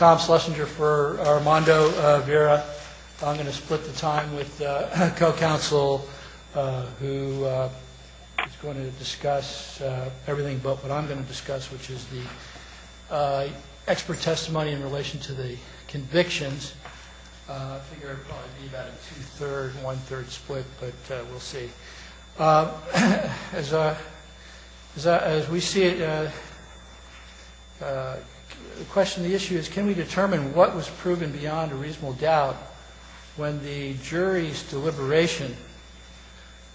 I'm going to split the time with a co-counsel who is going to discuss everything but what I'm going to discuss, which is the expert testimony in relation to the convictions. Can we determine what was proven beyond a reasonable doubt when the jury's deliberation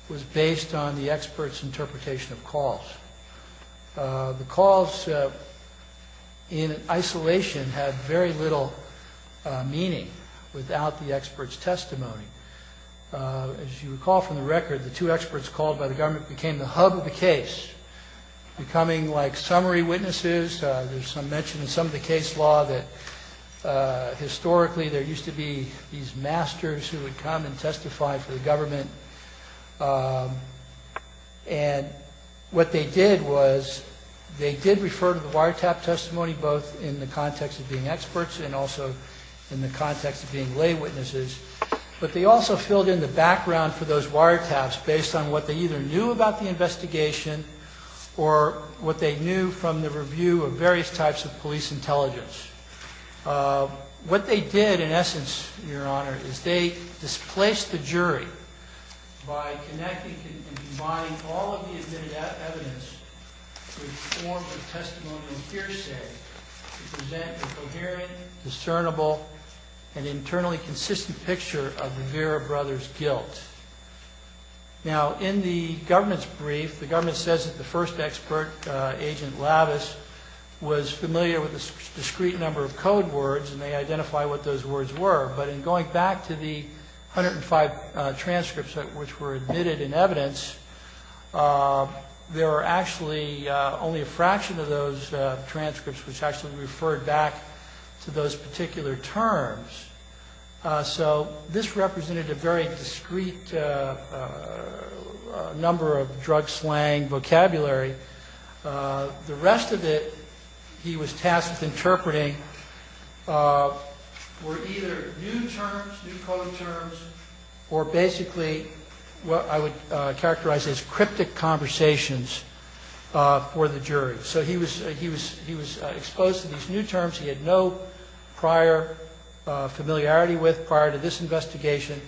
was based on the expert's interpretation of calls? The calls in isolation have very little meaning without the expert's testimony. As you recall from the record, the two experts called by the government became the hub of the case, becoming like summary witnesses. There's some mention in some of the case law that historically there used to be these masters who would come and testify for the government. And what they did was they did refer to the wiretap testimony both in the context of being experts and also in the context of being lay witnesses. But they also filled in the background for those wiretaps based on what they either knew about the investigation or what they knew from the review of various types of police intelligence. What they did, in essence, Your Honor, is they displaced the jury by connecting and combining all of the admitted evidence with forms of testimonial hearsay to present a coherent, discernible, and internally consistent picture of the Vera brothers' guilt. Now, in the government's brief, the government says that the first expert, Agent Lavis, was familiar with a discrete number of code words, and they identified what those words were. But in going back to the 105 transcripts which were admitted in evidence, there were actually only a fraction of those transcripts which actually referred back to those particular terms. So this represented a very discrete number of drug slang vocabulary. The rest of it he was tasked with interpreting were either new terms, new code terms, or basically what I would characterize as cryptic conversations for the jury. So he was exposed to these new terms he had no prior familiarity with prior to this investigation.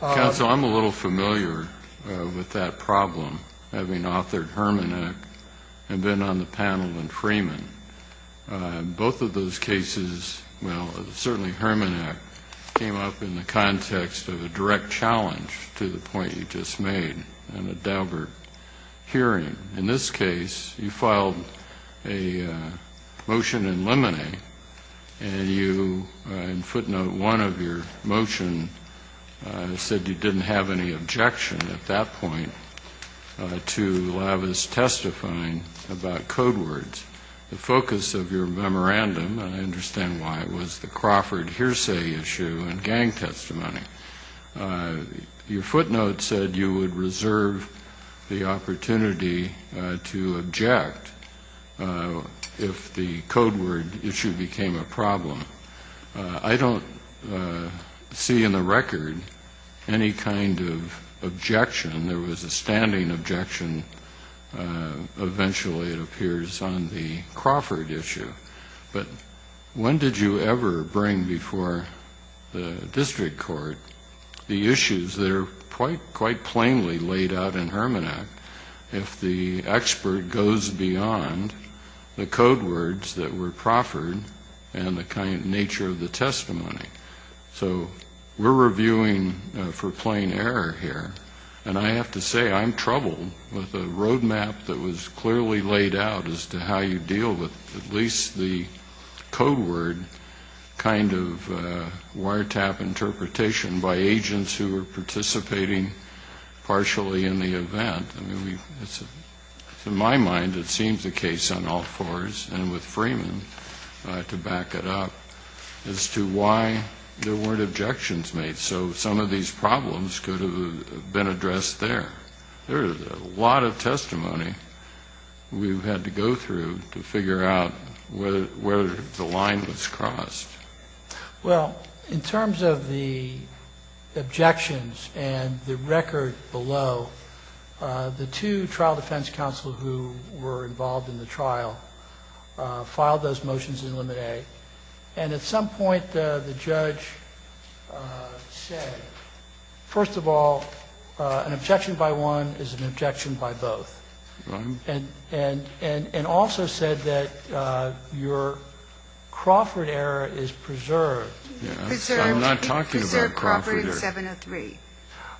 Counsel, I'm a little familiar with that problem, having authored Hermann Act and been on the panel in Freeman. Both of those cases, well, certainly Hermann Act, came up in the context of a direct challenge to the point you just made in the Daubert hearing. In this case, you filed a motion in limine, and you, in footnote one of your motion, said you didn't have any objection at that point to Lavis testifying about code words. The focus of your memorandum, and I understand why, was the Crawford hearsay issue and gang testimony. Your footnote said you would reserve the opportunity to object if the code word issue became a problem. I don't see in the record any kind of objection. There was a standing objection. Eventually it appears on the Crawford issue. But when did you ever bring before the district court the issues that are quite plainly laid out in Hermann Act if the expert goes beyond the code words that were Crawford and the kind of nature of the testimony? So we're reviewing for plain error here. And I have to say, I'm troubled with a roadmap that was clearly laid out as to how you deal with at least the code word kind of wiretap interpretation by agents who were participating partially in the event. I mean, in my mind, it seems the case on all fours, and with Freeman, to back it up, as to why there weren't objections made. So some of these problems could have been addressed there. There is a lot of testimony we've had to go through to figure out where the line was crossed. Well, in terms of the objections and the record below, the two trial defense counsel who were involved in the trial filed those motions in Limit A. And at some point, the judge said, first of all, an objection by one is an objection by both. And also said that your Crawford error is preserved. Preserved. I'm not talking about Crawford error. Preserved Crawford in 703.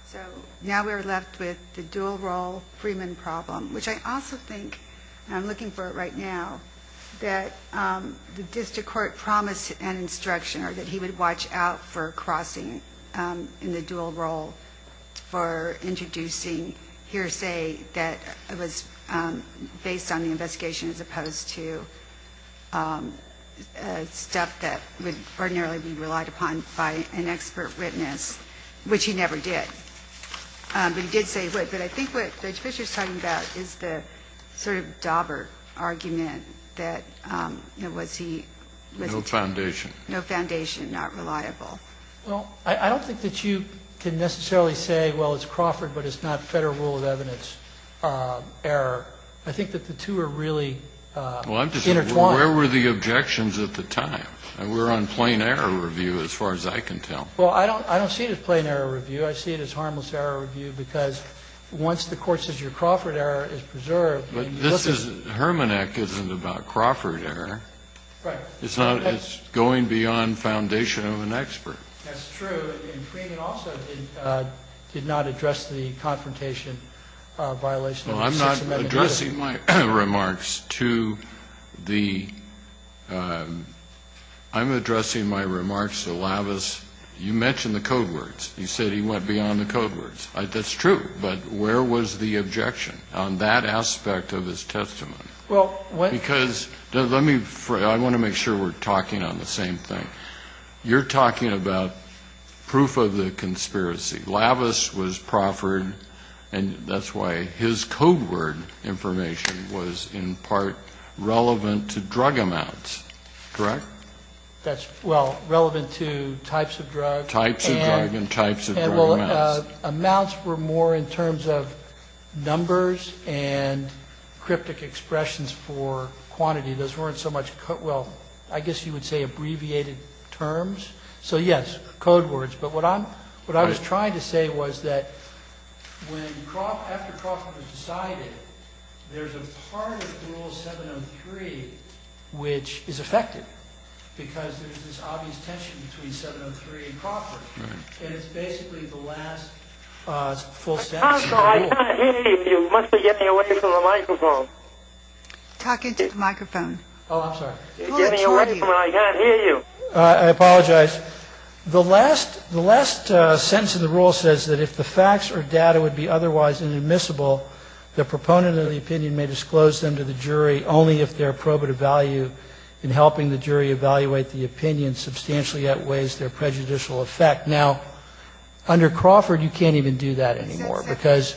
So now we're left with the dual role Freeman problem, which I also think, and I'm looking for it right now, that the district court has a lot of evidence that the court promised an instruction, or that he would watch out for crossing in the dual role for introducing hearsay that was based on the investigation, as opposed to stuff that would ordinarily be relied upon by an expert witness, which he never did. But he did say, but I think what Judge Fischer's talking about is the sort of dauber argument that, you know, was he, you know, was it, no foundation. No foundation, not reliable. Well, I don't think that you can necessarily say, well, it's Crawford, but it's not Federal rule of evidence error. I think that the two are really intertwined. Well, I'm just saying, where were the objections at the time? We're on plain error review, as far as I can tell. Well, I don't see it as plain error review. I see it as harmless error review, because once the court says your Crawford error is preserved and you look at it. But this is, Hermanek isn't about Crawford error. Right. It's not. It's going beyond foundation of an expert. That's true. And Freeman also did not address the confrontation violation of the Sixth Amendment. Well, I'm not addressing my remarks to the – I'm addressing my remarks to Lavas. You mentioned the code words. You said he went beyond the code words. That's true. But where was the objection on that aspect of his testimony? Well, when – Because – let me – I want to make sure we're talking on the same thing. You're talking about proof of the conspiracy. Lavas was Crawford, and that's why his code word information was in part relevant to drug amounts, correct? That's – well, relevant to types of drugs. Types of drugs and types of drug amounts. Amounts were more in terms of numbers and cryptic expressions for quantity. Those weren't so much – well, I guess you would say abbreviated terms. So, yes, code words. But what I'm – what I was trying to say was that when Crawford – after Crawford was decided, there's a part of Rule 703 which is affected because there's this obvious tension between 703 and Crawford. Right. And it's basically the last full sentence of the rule. Counsel, I can't hear you. You must be getting away from the microphone. Talk into the microphone. Oh, I'm sorry. You're getting away from it. I can't hear you. I apologize. The last – the last sentence of the rule says that if the facts or data would be otherwise inadmissible, the proponent of the opinion may disclose them to the jury only if they're probative value in helping the jury evaluate the opinion substantially outweighs their prejudicial effect. Now, under Crawford, you can't even do that anymore because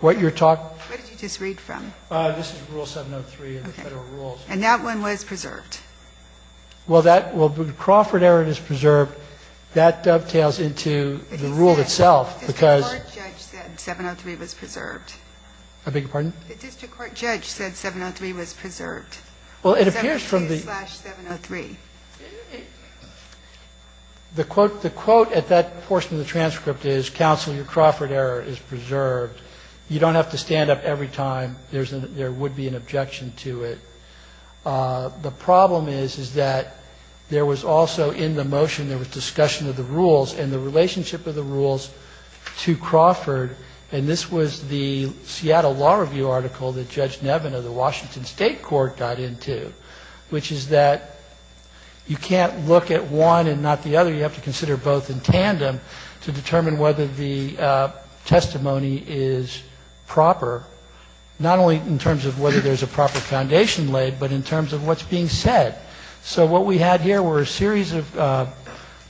what you're talking – What did you just read from? This is Rule 703 in the Federal Rules. Okay. And that one was preserved. Well, that – well, Crawford error is preserved. That dovetails into the rule itself because – The district court judge said 703 was preserved. I beg your pardon? The district court judge said 703 was preserved. Well, it appears from the – 703 is slash 703. The quote – the quote at that portion of the transcript is, counsel, your Crawford error is preserved. You don't have to stand up every time. There's an – there would be an objection to it. The problem is, is that there was also in the motion, there was discussion of the rules and the relationship of the rules to Crawford, and this was the Seattle Law Review article that Judge Nevin of the Washington State Court got into, which is that you can't look at one and not the other. You have to consider both in tandem to determine whether the testimony is proper, not only in terms of whether there's a proper foundation laid, but in terms of what's being said. So what we had here were a series of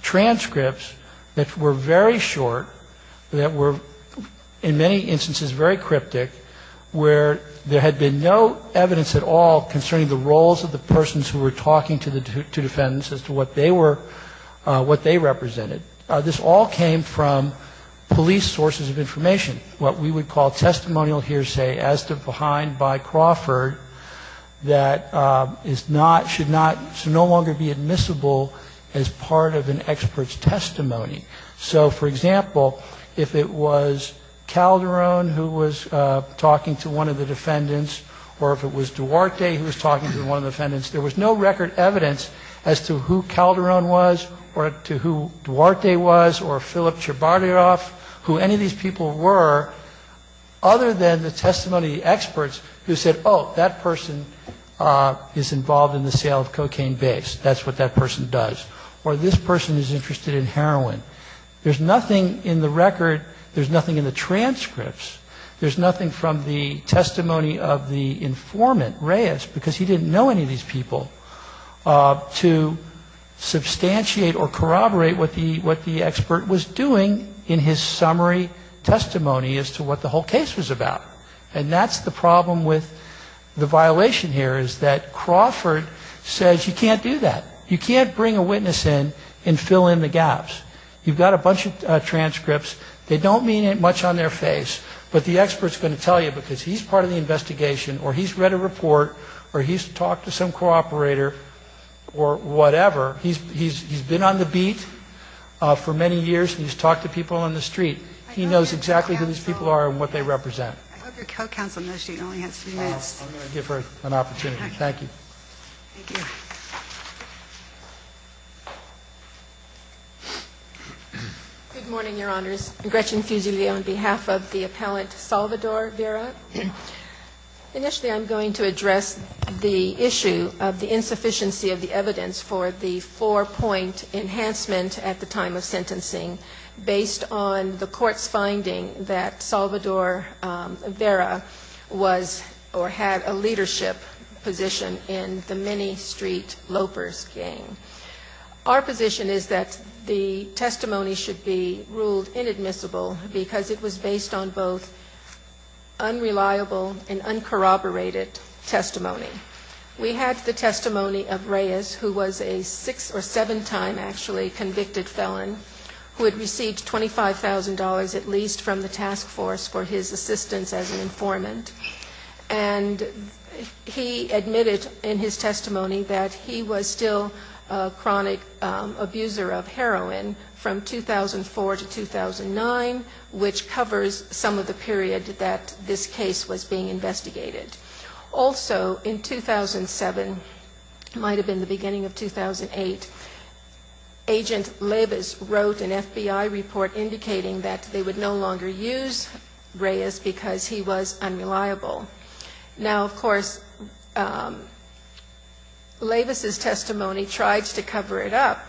transcripts that were very short, that were in many instances very cryptic, where there had been no evidence at all concerning the roles of the persons who were talking to defendants as to what they were – what they represented. This all came from police sources of information, what we would call testimonial hearsay as to behind by Crawford that is not – should not – should no longer be admissible as part of an expert's testimony. So, for example, if it was Calderon who was talking to one of the defendants or if it was Duarte who was talking to one of the defendants, there was no record evidence as to who Calderon was or to who Duarte was or Philip Cherbartiroff, who any of these people were, other than the testimony experts who said, oh, that person is involved in the sale of cocaine base, that's what that person does. Or this person is interested in heroin. There's nothing in the record, there's nothing in the transcripts, there's nothing from the testimony of the informant, Reyes, because he didn't know any of these people, to substantiate or corroborate what the expert was doing in his summary testimony as to what the whole case was about. And that's the problem with the violation here is that Crawford says you can't do that. You can't bring a witness in and fill in the gaps. You've got a bunch of transcripts, they don't mean much on their face, but the expert is going to tell you because he's part of the investigation or he's read a report or he's talked to some co-operator or whatever. He's been on the beat for many years and he's talked to people on the street. He knows exactly who these people are and what they represent. I'm going to give her an opportunity. Thank you. Thank you. Good morning, Your Honors. Gretchen Fusilier on behalf of the appellant Salvador Vera. Initially I'm going to address the issue of the insufficiency of the evidence for the four-point enhancement at the time of sentencing based on the court's finding that Salvador Vera was or had a leadership position in the many-street lopers gang. Our position is that the testimony should be ruled inadmissible because it was based on both unreliable and uncorroborated testimony. We had the testimony of Reyes, who was a six- or seven-time actually convicted felon, who had received $25,000 at least from the task force for his assistance as an informant. And he admitted in his testimony that he was still a chronic abuser of heroin from 2004 to 2009, which covers some of the period that this case was being investigated. Also in 2007, might have been the beginning of 2008, Agent Leibus wrote an FBI report indicating that they would no longer use Reyes because he was unreliable. Now, of course, Leibus's testimony tries to cover it up,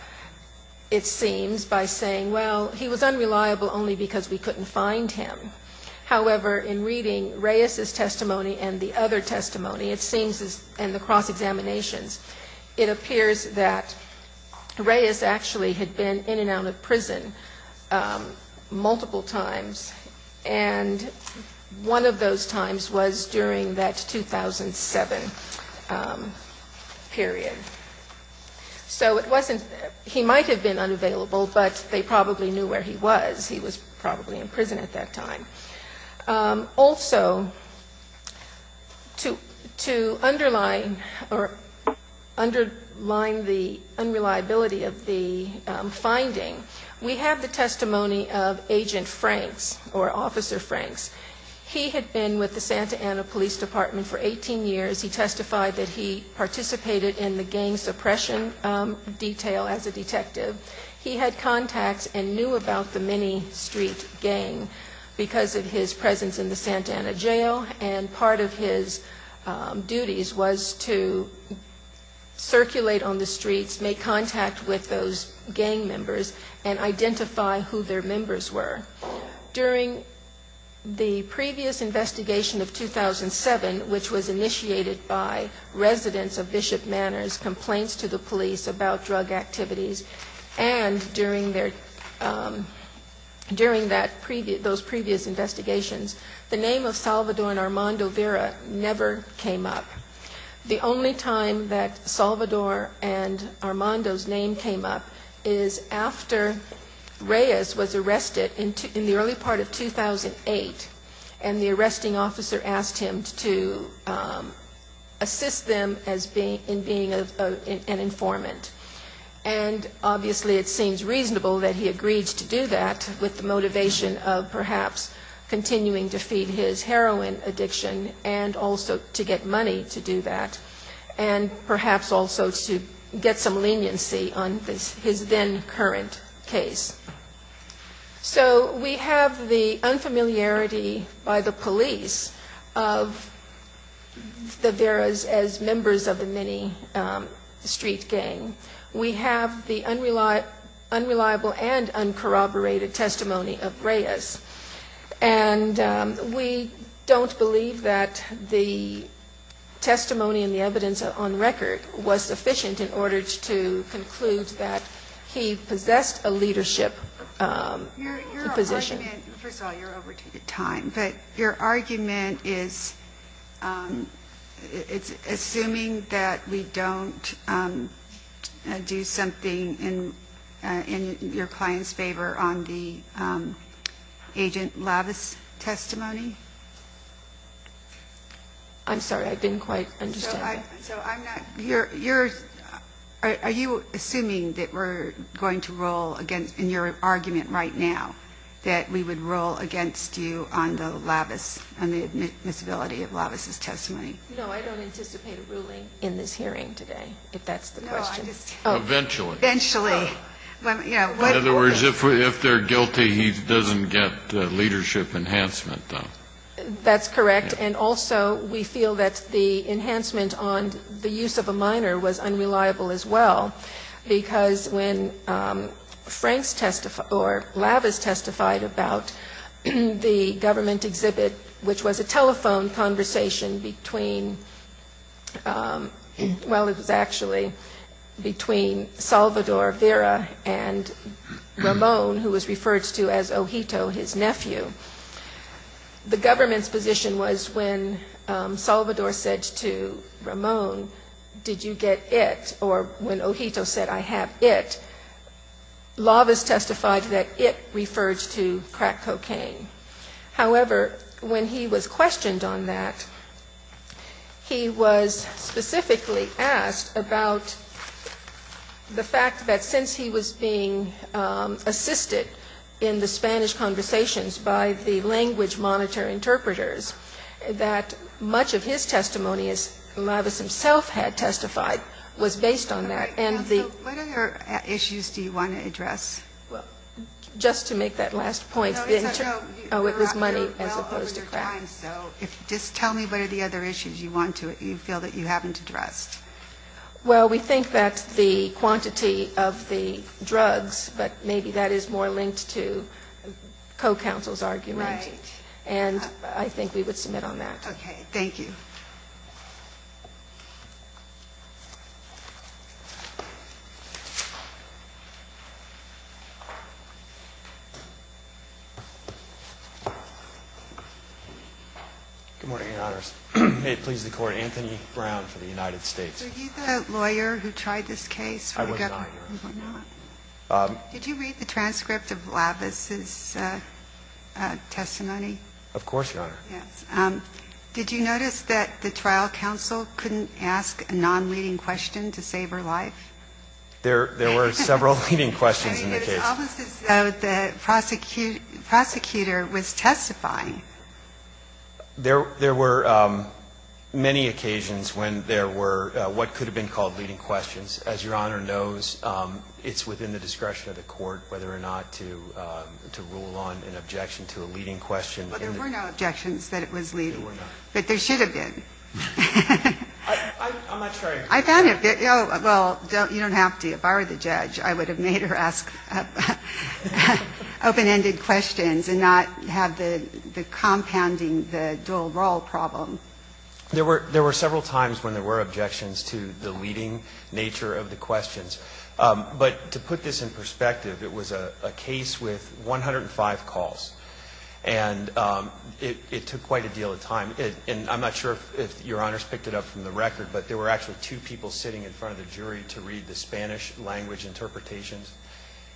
it seems, by saying, well, he was unreliable only because we couldn't find him. However, in reading Reyes's testimony and the other testimony, it seems, and the cross-examinations, it appears that Reyes actually had been in and out of prison multiple times, and one of those times was during that 2007 period. So it wasn't he might have been unavailable, but they probably knew where he was. He was probably in prison at that time. Also, to underline the unreliability of the finding, we have the testimony of Agent Franks, or Officer Franks. He had been with the Santa Ana Police Department for 18 years. He testified that he participated in the gang suppression detail as a detective. He had contacts and knew about the mini-street gang because of his presence in the Santa Ana jail, and part of his duties was to circulate on the streets, make contact with those gang members, and identify who their members were. During the previous investigation of 2007, which was initiated by residents of Bishop Manor's complaints to the police about drug activities, and during those previous investigations, the name of Salvador and Armando Vera never came up. The only time that Salvador and Armando's name came up is after Reyes was arrested in the early part of 2008, and the arresting officer asked him to assist them in being an informant. And obviously it seems reasonable that he agreed to do that, with the motivation of perhaps continuing to feed his heroin addiction and also to get money to do that, and perhaps also to get some leniency on his then-current case. So we have the unfamiliarity by the police of the Veras as members of the mini-street gang. We have the unreliable and uncorroborated testimony of Reyes, and we don't believe that the testimony and the evidence on record was sufficient in order to conclude that he possessed a leadership position. First of all, you're overtaking time. But your argument is, it's assuming that we don't do something in your client's favor on the Agent Lavis testimony? I'm sorry, I didn't quite understand that. So I'm not, you're, are you assuming that we're going to roll against, in your argument right now, that we would roll against you on the Lavis, on the admissibility of Lavis' testimony? No, I don't anticipate a ruling in this hearing today, if that's the question. Eventually. Eventually. In other words, if they're guilty, he doesn't get leadership enhancement, though. That's correct. And also, we feel that the enhancement on the use of a minor was unreliable as well, because when Frank's testified, or Lavis testified about the government exhibit, which was a telephone conversation between, well, it was actually between Salvador Vera and Ramon, who was referred to as Ojito, his nephew, the government's position was when Salvador said to Ramon, did you get it? Or when Ojito said, I have it, Lavis testified that it referred to crack cocaine. However, when he was questioned on that, he was specifically asked about the fact that since he was being assisted in the Spanish conversations by the language monitor interpreters, that much of his testimony, as Lavis himself had testified, was based on that. And the... What other issues do you want to address? Just to make that last point. Oh, it was money as opposed to crack. Just tell me what are the other issues you want to, you feel that you haven't addressed. Well, we think that the quantity of the drugs, but maybe that is more linked to co-counsel's argument. Right. And I think we would submit on that. Good morning, Your Honors. May it please the Court, Anthony Brown for the United States. Are you the lawyer who tried this case? I was not, Your Honor. Did you read the transcript of Lavis's testimony? Of course, Your Honor. Did you notice that the trial counsel couldn't ask a non-leading question to save her life? There were several leading questions in the case. I mean, it was almost as though the prosecutor was testifying. There were many occasions when there were what could have been called leading questions. As Your Honor knows, it's within the discretion of the Court whether or not to rule on an objection to a leading question. But there were no objections that it was leading. There were not. But there should have been. I'm not trying to. Well, you don't have to. If I were the judge, I would have made her ask open-ended questions and not have the compounding, the dual role problem. There were several times when there were objections to the leading nature of the questions. But to put this in perspective, it was a case with 105 calls. And it took quite a deal of time. And I'm not sure if Your Honors picked it up from the record, but there were actually two people sitting in front of the jury to read the Spanish language interpretations.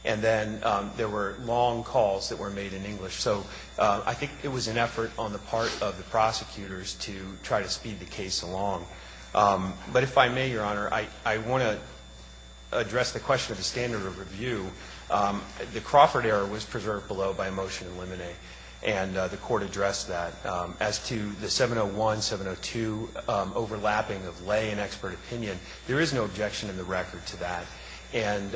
And then there were long calls that were made in English. So I think it was an effort on the part of the prosecutors to try to speed the case along. But if I may, Your Honor, I want to address the question of the standard of review. The Crawford error was preserved below by a motion to eliminate. And the Court addressed that. As to the 701, 702 overlapping of lay and expert opinion, there is no objection in the record to that. And,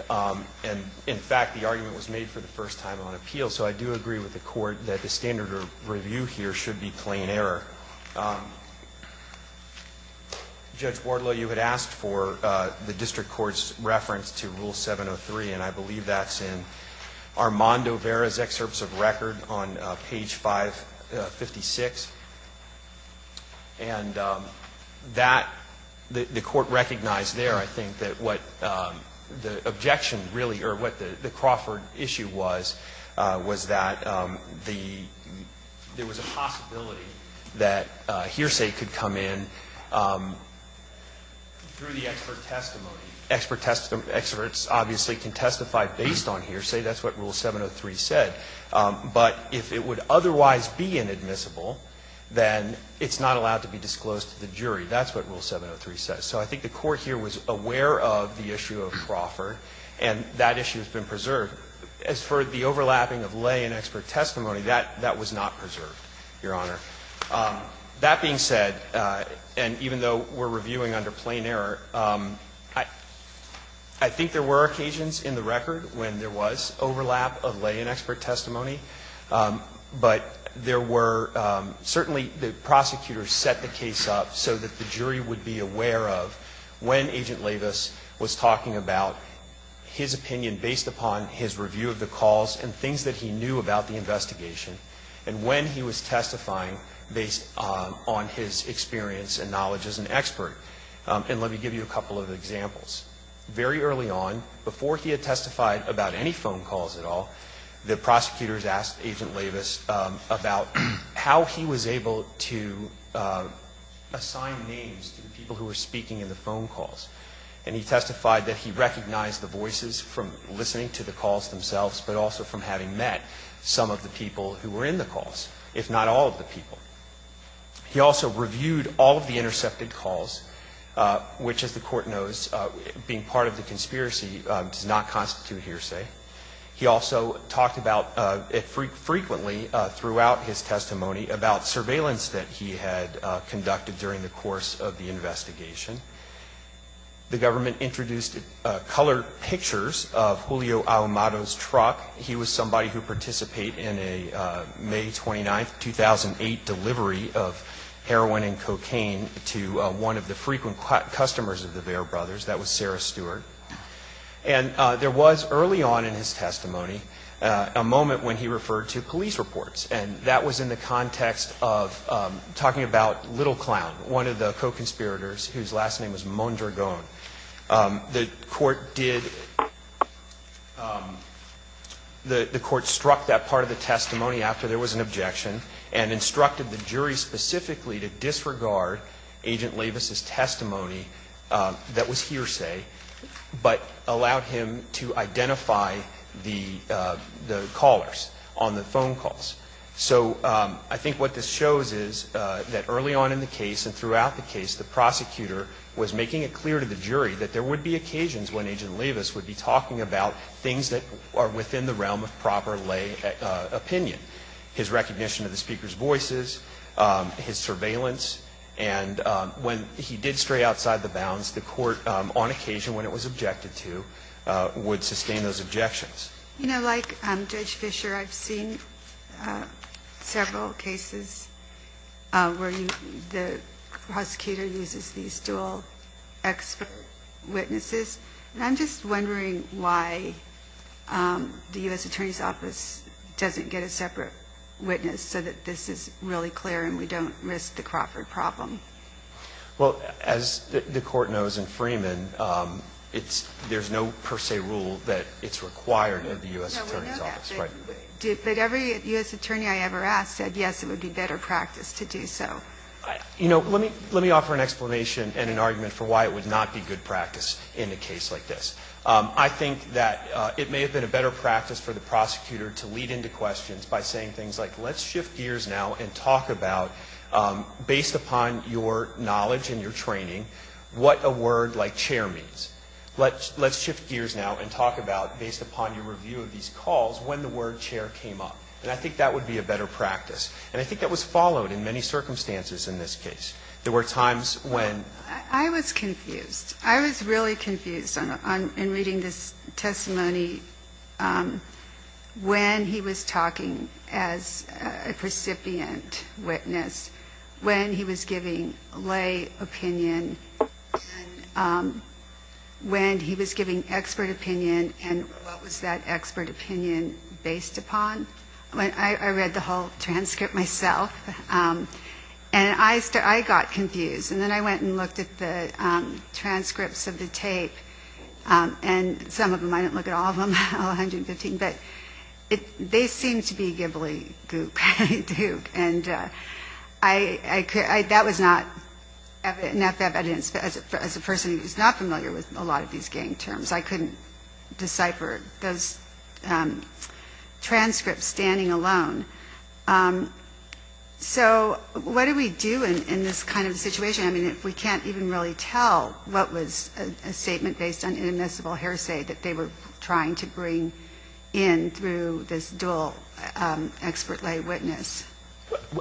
in fact, the argument was made for the first time on appeal. So I do agree with the Court that the standard of review here should be plain error. Judge Wardlow, you had asked for the district court's reference to Rule 703. And I believe that's in Armando Vera's excerpts of record on page 556. And that, the Court recognized there, I think, that what the objection really, or what the Crawford issue was, was that there was a possibility that hearsay could come in through the expert testimony. Experts obviously can testify based on hearsay. That's what Rule 703 said. But if it would otherwise be inadmissible, then it's not allowed to be disclosed to the jury. That's what Rule 703 says. So I think the Court here was aware of the issue of Crawford. And that issue has been preserved. As for the overlapping of lay and expert testimony, that was not preserved, Your Honor. That being said, and even though we're reviewing under plain error, I think there were occasions in the record when there was overlap of lay and expert testimony. But there were certainly the prosecutors set the case up so that the jury would be aware of when Agent Lavis was talking about his opinion based upon his review of the calls and things that he knew about the investigation, and when he was testifying based on his experience and knowledge as an expert. And let me give you a couple of examples. Very early on, before he had testified about any phone calls at all, the prosecutors asked Agent Lavis about how he was able to assign names to the people who were speaking in the phone calls, and he testified that he recognized the voices from listening to the calls themselves, but also from having met some of the people who were in the calls, if not all of the people. He also reviewed all of the intercepted calls, which, as the Court knows, being part of the conspiracy does not constitute hearsay. He also talked about, frequently throughout his testimony, about surveillance that he had conducted during the course of the investigation. The government introduced colored pictures of Julio Aumado's truck. He was somebody who participated in a May 29, 2008, delivery of heroin and cocaine to one of the frequent customers of the Vare Brothers. That was Sarah Stewart. And there was, early on in his testimony, a moment when he referred to police reports, and that was in the context of talking about Little Clown, one of the co-conspirators whose last name was Mondragon. The Court did, the Court struck that part of the testimony after there was an objection and instructed the jury specifically to disregard Agent Lavis's testimony that was hearsay, but allowed him to identify the callers on the phone calls. So I think what this shows is that early on in the case and throughout the case, the prosecutor was making it clear to the jury that there would be occasions when Agent Lavis would be talking about things that are within the realm of proper lay opinion, his recognition of the speaker's voices, his surveillance. And when he did stray outside the bounds, the Court, on occasion when it was objected to, would sustain those objections. You know, like Judge Fischer, I've seen several cases where the prosecutor uses these dual expert witnesses. And I'm just wondering why the U.S. Attorney's Office doesn't get a separate witness so that this is really clear and we don't risk the Crawford problem. Well, as the Court knows in Freeman, there's no per se rule that it's required of the U.S. Attorney's Office. No, we know that. But every U.S. attorney I ever asked said, yes, it would be better practice to do so. You know, let me offer an explanation and an argument for why it would not be good practice in a case like this. I think that it may have been a better practice for the prosecutor to lead into things like let's shift gears now and talk about, based upon your knowledge and your training, what a word like chair means. Let's shift gears now and talk about, based upon your review of these calls, when the word chair came up. And I think that would be a better practice. And I think that was followed in many circumstances in this case. There were times when ---- I was confused. I was really confused in reading this testimony when he was talking as a recipient witness, when he was giving lay opinion, when he was giving expert opinion, and what was that expert opinion based upon. I read the whole transcript myself. And I got confused. And then I went and looked at the transcripts of the tape. And some of them, I didn't look at all of them, all 115, but they seemed to be ghibli goop. And that was not an FF evidence. As a person who is not familiar with a lot of these gang terms, I couldn't decipher those transcripts standing alone. So what do we do in this kind of situation? I mean, we can't even really tell what was a statement based on inadmissible hearsay that they were trying to bring in through this dual expert lay witness.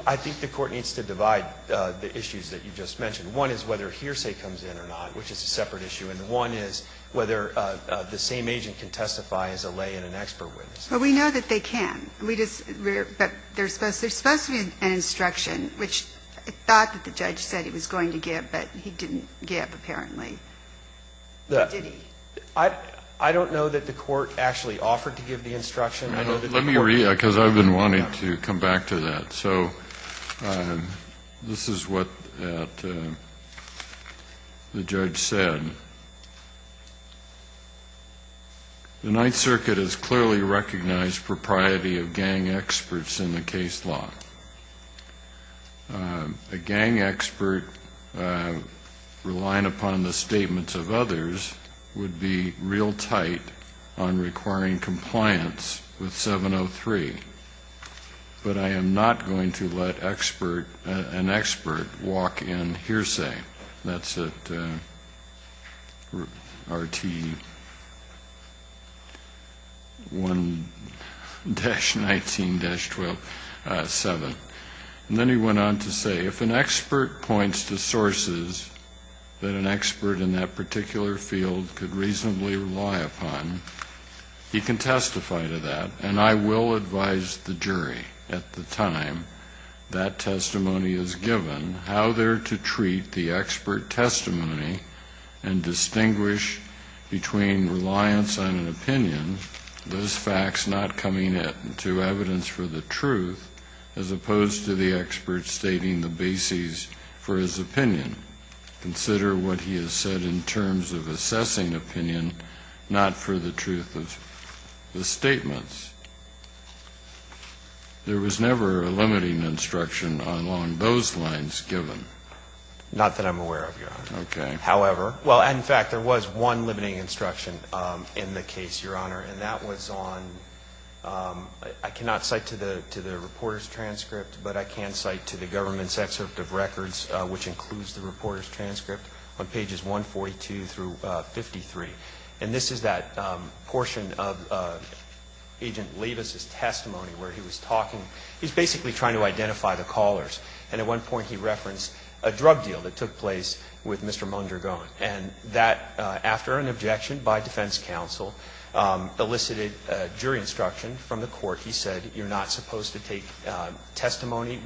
I think the Court needs to divide the issues that you just mentioned. One is whether hearsay comes in or not, which is a separate issue. And one is whether the same agent can testify as a lay and an expert witness. Well, we know that they can. But there's supposed to be an instruction, which I thought that the judge said he was going to give, but he didn't give, apparently. Did he? I don't know that the Court actually offered to give the instruction. Let me read it, because I've been wanting to come back to that. So this is what the judge said. The Ninth Circuit has clearly recognized propriety of gang experts in the case law. A gang expert relying upon the statements of others would be real tight on requiring compliance with 703. But I am not going to let an expert walk in hearsay. That's at RT1-19-7. And then he went on to say, if an expert points to sources that an expert in that particular field could reasonably rely upon, he can testify to that. And I will advise the jury at the time that testimony is given how they're to treat the expert testimony and distinguish between reliance on an opinion, those facts not coming to evidence for the truth, as opposed to the expert stating the bases for his opinion. Consider what he has said in terms of assessing opinion, not for the truth of the statements. There was never a limiting instruction along those lines given. Not that I'm aware of, Your Honor. Okay. However, well, in fact, there was one limiting instruction in the case, Your Honor, and that was on ‑‑ I cannot cite to the reporter's transcript, but I can cite to the government's excerpt of records, which includes the reporter's transcript on pages 142 through 53. And this is that portion of Agent Leibus's testimony where he was talking ‑‑ he was basically trying to identify the callers. And at one point he referenced a drug deal that took place with Mr. Mondragon. And that, after an objection by defense counsel, elicited jury instruction from the court. He said you're not supposed to take testimony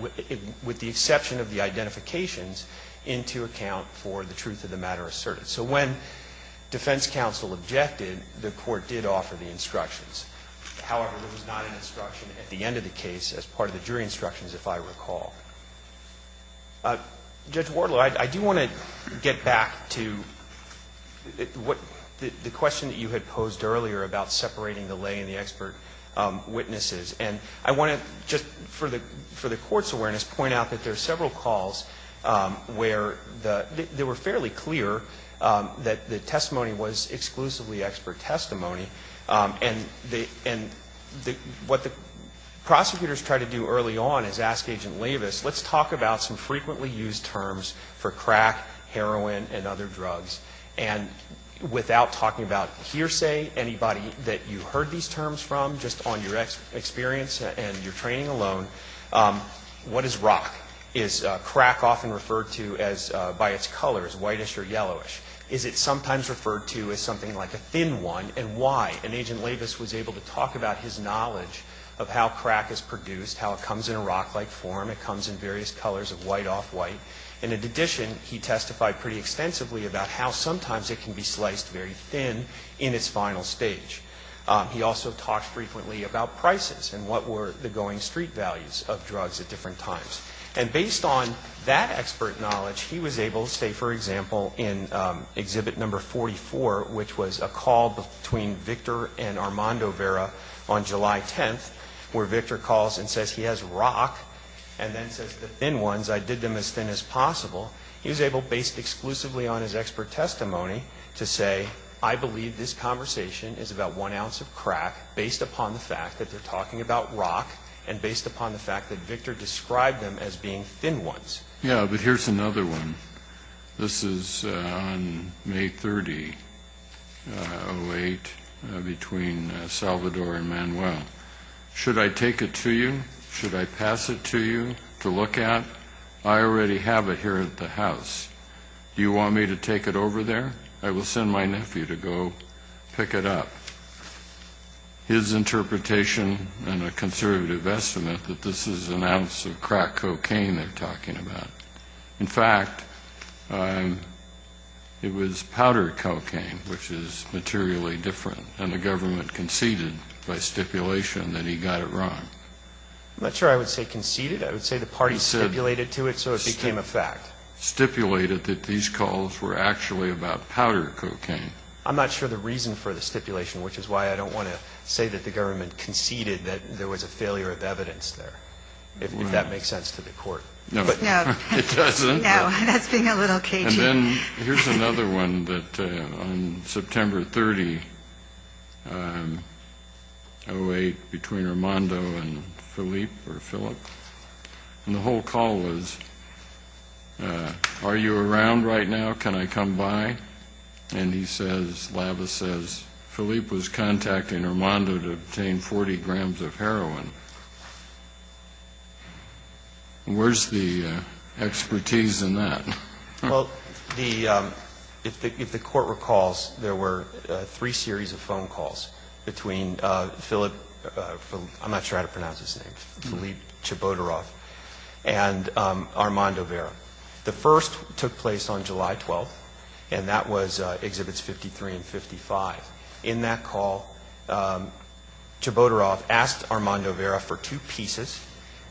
with the exception of the identifications into account for the truth of the matter asserted. So when defense counsel objected, the court did offer the instructions. However, there was not an instruction at the end of the case as part of the jury instructions, if I recall. Judge Wardlow, I do want to get back to the question that you had posed earlier about separating the lay and the expert witnesses. And I want to just, for the court's awareness, point out that there are several calls where they were fairly clear that the testimony was exclusively expert testimony. And what the prosecutors tried to do early on is ask Agent Leibus, let's talk about some frequently used terms for crack, heroin and other drugs. And without talking about hearsay, anybody that you heard these terms from, just on your experience and your training alone, what is rock? Is crack often referred to by its color as whitish or yellowish? Is it sometimes referred to as something like a thin one? And why? And Agent Leibus was able to talk about his knowledge of how crack is produced, how it comes in a rock-like form, it comes in various colors of white off white. And in addition, he testified pretty extensively about how sometimes it can be sliced very thin in its final stage. He also talked frequently about prices and what were the going street values of drugs at different times. And based on that expert knowledge, he was able to say, for example, in Exhibit No. 44, which was a call between Victor and Armando Vera on July 10th, where Victor calls and says he has rock, and then says the thin ones, I did them as thin as possible. He was able, based exclusively on his expert testimony, to say, I believe this conversation is about one ounce of crack based upon the fact that they're talking about rock and based upon the fact that Victor described them as being thin ones. Yeah, but here's another one. This is on May 30, 08, between Salvador and Manuel. Should I take it to you? Should I pass it to you to look at? I already have it here at the house. Do you want me to take it over there? I will send my nephew to go pick it up. His interpretation and a conservative estimate that this is an ounce of crack cocaine they're talking about. In fact, it was powder cocaine, which is materially different, and the government conceded by stipulation that he got it wrong. I'm not sure I would say conceded. I would say the party stipulated to it so it became a fact. Stipulated that these calls were actually about powder cocaine. I'm not sure the reason for the stipulation, which is why I don't want to say that the government conceded that there was a failure of evidence there, if that makes sense to the court. No. It doesn't. No, that's being a little cagey. And then here's another one that on September 30, 08, between Armando and Philippe, and the whole call was, are you around right now? Can I come by? And he says, Lavis says, Philippe was contacting Armando to obtain 40 grams of heroin. Where's the expertise in that? Well, the, if the court recalls, there were three series of phone calls between Philippe, I'm not sure how to pronounce his name, Philippe Chabotaroff, and Armando Vera. The first took place on July 12th, and that was Exhibits 53 and 55. In that call, Chabotaroff asked Armando Vera for two pieces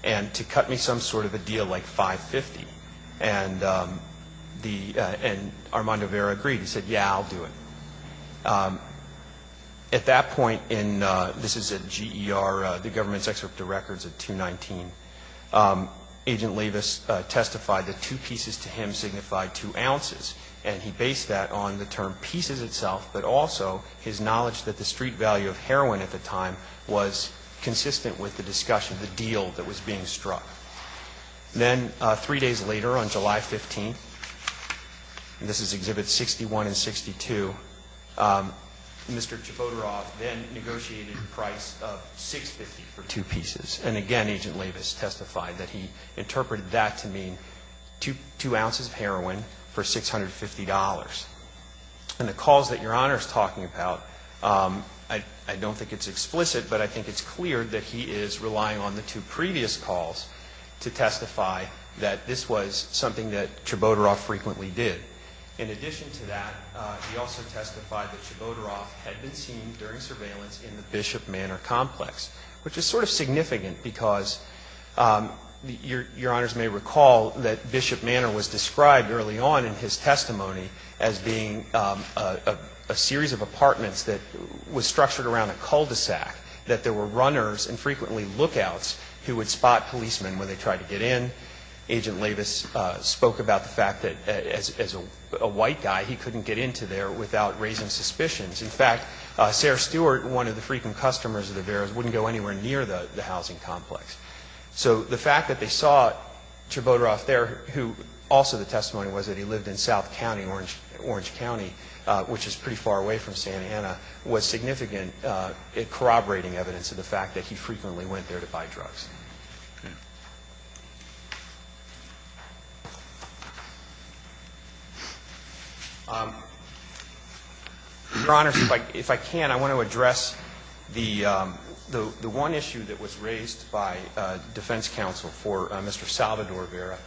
and to cut me some sort of a deal like 550. And the, and Armando Vera agreed. He said, yeah, I'll do it. At that point in, this is a GER, the government's excerpt of records of 219, Agent Lavis testified that two pieces to him signified two ounces, and he based that on the term pieces itself, but also his knowledge that the street value of heroin at the time was consistent with the discussion, the deal that was being struck. Then three days later, on July 15th, and this is Exhibits 61 and 62, Mr. Chabotaroff then negotiated a price of 650 for two pieces. And again, Agent Lavis testified that he interpreted that to mean two ounces of heroin for $650. And the calls that Your Honor is talking about, I don't think it's explicit, but I think it's clear that he is relying on the two previous calls to testify that this was something that Chabotaroff frequently did. In addition to that, he also testified that Chabotaroff had been seen during the incident, because Your Honors may recall that Bishop Manor was described early on in his testimony as being a series of apartments that was structured around a cul-de-sac, that there were runners and frequently lookouts who would spot policemen when they tried to get in. Agent Lavis spoke about the fact that as a white guy, he couldn't get into there without raising suspicions. In fact, Sarah Stewart, one of the frequent customers of the Vera's, wouldn't go anywhere near the housing complex. So the fact that they saw Chabotaroff there, who also the testimony was that he lived in South County, Orange County, which is pretty far away from Santa Ana, was significant corroborating evidence of the fact that he frequently went there to buy drugs. Your Honors, if I can, I want to address the one issue that was raised by defense counsel for Mr. Salvador Vera.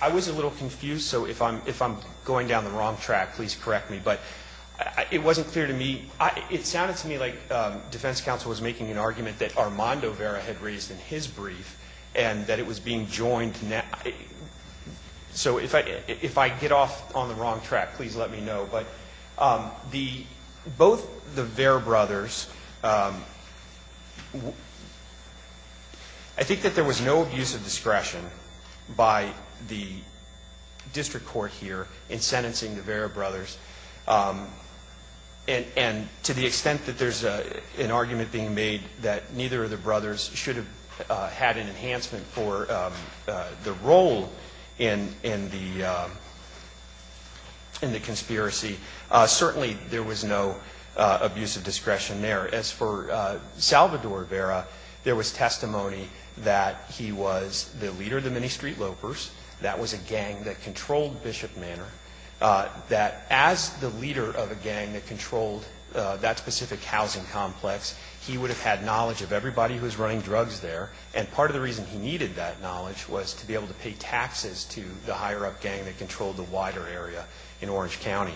I was a little confused, so if I'm going down the wrong track, please correct me, but it wasn't clear to me. It sounded to me like defense counsel was making an argument that Armando Vera had raised in his brief. And that it was being joined. So if I get off on the wrong track, please let me know. But both the Vera brothers, I think that there was no abuse of discretion by the district court here in sentencing the Vera brothers. And to the extent that there's an argument being made that neither of the brothers should have had an enhancement for the role in the conspiracy, certainly there was no abuse of discretion there. As for Salvador Vera, there was testimony that he was the leader of the Mini-Street Lopers. That was a gang that controlled Bishop Manor. That as the leader of a gang that controlled that specific housing complex, he would have had knowledge of everybody who was running drugs there. And part of the reason he needed that knowledge was to be able to pay taxes to the higher-up gang that controlled the wider area in Orange County.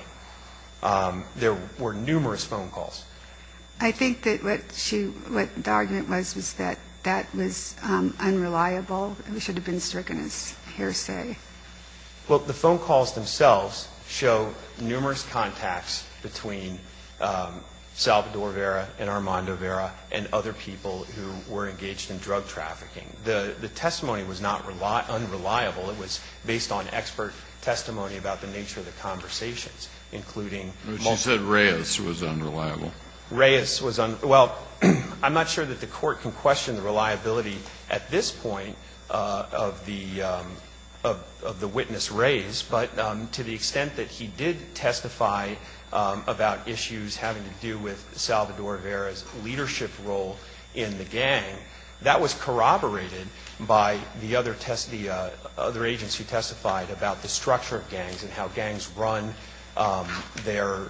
There were numerous phone calls. I think that what the argument was was that that was unreliable and should have been stricken as hearsay. Well, the phone calls themselves show numerous contacts between Salvador Vera and other people who were engaged in drug trafficking. The testimony was not unreliable. It was based on expert testimony about the nature of the conversations, including most of the people. But you said Reyes was unreliable. Reyes was unreliable. Well, I'm not sure that the Court can question the reliability at this point of the witness Reyes, but to the extent that he did testify about issues having to do with his role in the gang, that was corroborated by the other agents who testified about the structure of gangs and how gangs run their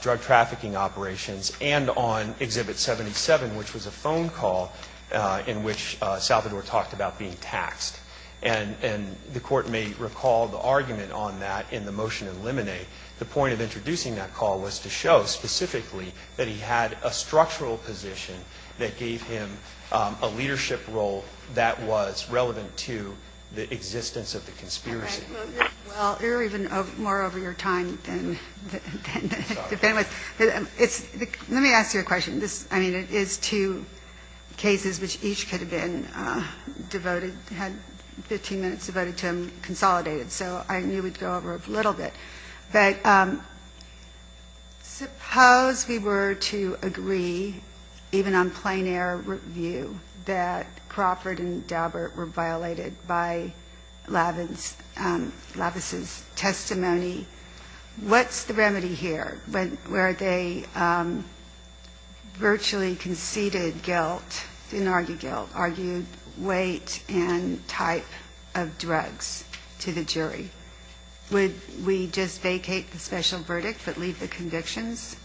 drug trafficking operations and on Exhibit 77, which was a phone call in which Salvador talked about being taxed. And the Court may recall the argument on that in the motion to eliminate. The point of introducing that call was to show specifically that he had a structural position that gave him a leadership role that was relevant to the existence of the conspiracy. Well, you're even more over your time than the witness. Let me ask you a question. I mean, it is two cases which each could have been devoted, had 15 minutes devoted to them, consolidated. So I knew we'd go over it a little bit. But suppose we were to agree, even on plain air review, that Crawford and Daubert were violated by Lavis' testimony. What's the remedy here? Where they virtually conceded guilt, didn't argue guilt, argued weight and type of drugs to the jury. Would we just vacate the special verdict but leave the convictions?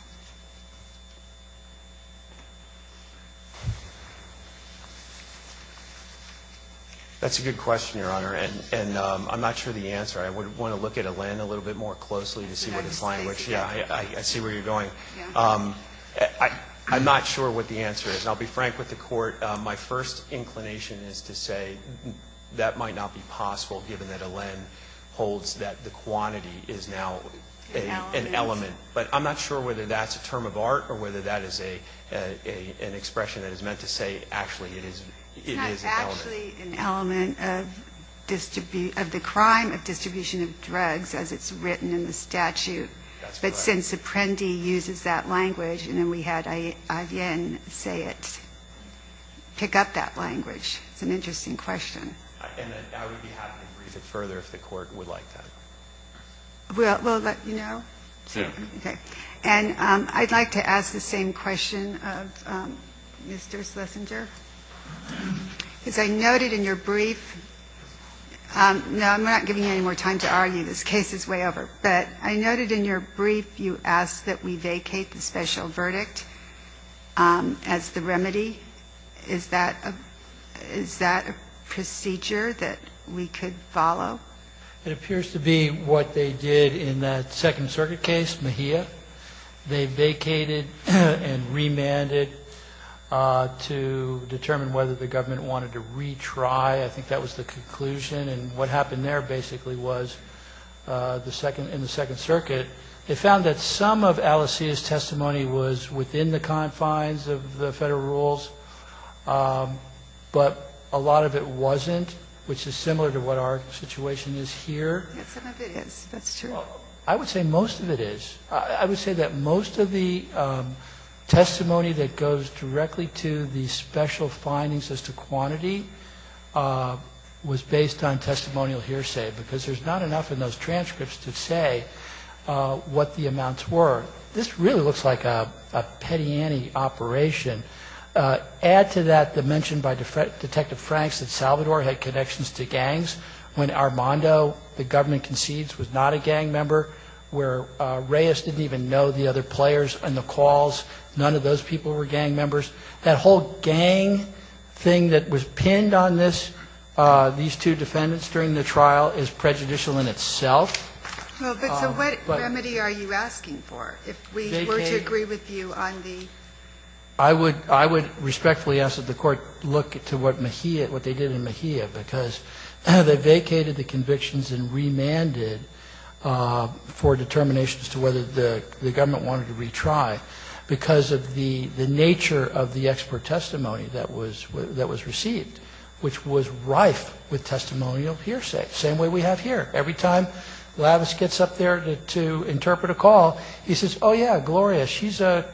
That's a good question, Your Honor. And I'm not sure the answer. I would want to look at Elen a little bit more closely to see what his language is. I see where you're going. I'm not sure what the answer is. And I'll be frank with the Court. My first inclination is to say that might not be possible given that Elen holds that the quantity is now an element. But I'm not sure whether that's a term of art or whether that is an expression that is meant to say actually it is an element. It's not actually an element of the crime of distribution of drugs as it's written in the statute. But since Apprendi uses that language and then we had Ayen say it, pick up that language, it's an interesting question. And I would be happy to read it further if the Court would like that. We'll let you know? Soon. Okay. And I'd like to ask the same question of Mr. Schlesinger. Because I noted in your brief – no, I'm not giving you any more time to argue. This case is way over. But I noted in your brief you asked that we vacate the special verdict as the remedy. Is that a procedure that we could follow? It appears to be what they did in that Second Circuit case, Mejia. They vacated and remanded to determine whether the government wanted to retry. I think that was the conclusion. And what happened there basically was, in the Second Circuit, they found that some of Alicia's testimony was within the confines of the federal rules, but a lot of it wasn't, which is similar to what our situation is here. Yes, some of it is. That's true. I would say most of it is. I would say that most of the testimony that goes directly to the special findings as to quantity was based on testimonial hearsay because there's not enough in those transcripts to say what the amounts were. This really looks like a Petiani operation. Add to that the mention by Detective Franks that Salvador had connections to gangs when Armando, the government concedes, was not a gang member, where Reyes didn't even know the other players in the calls. None of those people were gang members. That whole gang thing that was pinned on these two defendants during the trial is prejudicial in itself. Well, but so what remedy are you asking for, if we were to agree with you on the... I would respectfully ask that the Court look to what they did in Mejia, because they vacated the convictions and remanded for determination as to whether the government wanted to retry because of the nature of the expert testimony that was received, which was rife with testimonial hearsay. Same way we have here. Every time Lavis gets up there to interpret a call, he says, oh, yeah, Gloria, she's a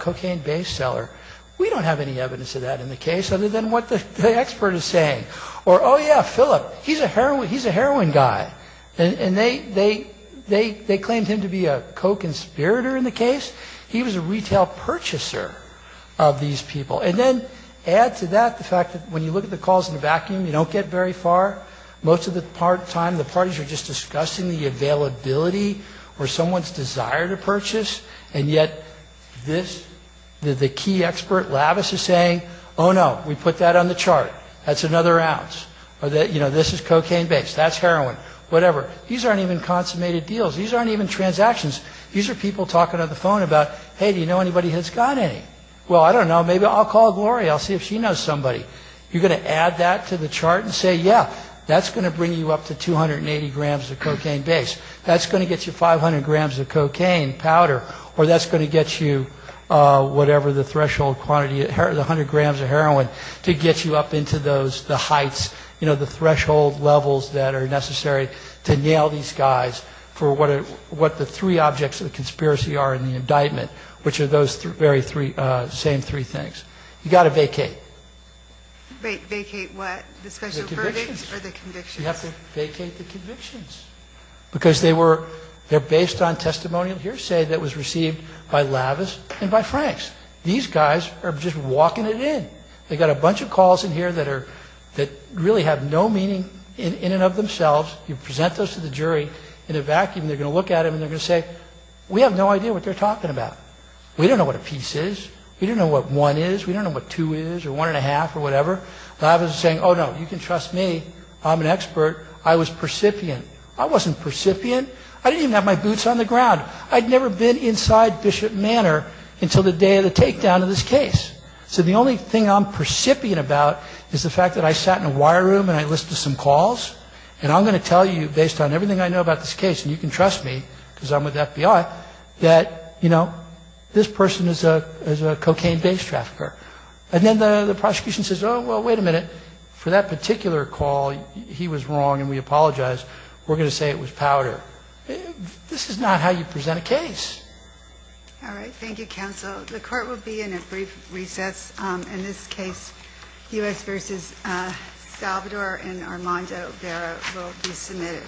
cocaine base seller. We don't have any evidence of that in the case other than what the expert is saying. Or, oh, yeah, Phillip, he's a heroin guy. And they claimed him to be a co-conspirator in the case. He was a retail purchaser of these people. And then add to that the fact that when you look at the calls in a vacuum, you don't get very far. Most of the time, the parties are just discussing the availability or someone's desire to purchase, and yet this, the key expert, Lavis, is saying, oh, no, we put that on the chart. That's another ounce. Or, you know, this is cocaine-based. That's heroin. Whatever. These aren't even consummated deals. These aren't even transactions. These are people talking on the phone about, hey, do you know anybody who's got any? Well, I don't know. Maybe I'll call Gloria. I'll see if she knows somebody. You're going to add that to the chart and say, yeah, that's going to bring you up to 280 grams of cocaine base. That's going to get you 500 grams of cocaine powder. Or that's going to get you whatever the threshold quantity, 100 grams of heroin, to get you up into the heights, you know, the threshold levels that are necessary to nail these guys for what the three objects of the conspiracy are in the indictment, which are those same three things. You've got to vacate. Vacate what? The special verdicts or the convictions? The convictions. You have to vacate the convictions because they're based on testimonial hearsay that was received by Lavis and by Franks. These guys are just walking it in. They've got a bunch of calls in here that really have no meaning in and of themselves. You present those to the jury in a vacuum. They're going to look at them and they're going to say, we have no idea what they're talking about. We don't know what a piece is. We don't know what one is. We don't know what two is or one and a half or whatever. Lavis is saying, oh, no, you can trust me. I'm an expert. I was percipient. I wasn't percipient. I didn't even have my boots on the ground. I'd never been inside Bishop Manor until the day of the takedown of this case. So the only thing I'm percipient about is the fact that I sat in a wire room and I listened to some calls, and I'm going to tell you, based on everything I know about this case, and you can trust me because I'm with FBI, that, you know, this person is a cocaine-based trafficker. And then the prosecution says, oh, well, wait a minute. For that particular call, he was wrong and we apologize. We're going to say it was powder. All right. Thank you, counsel. The Court will be in a brief recess. In this case, U.S. v. Salvador and Armando Vera will be submitted.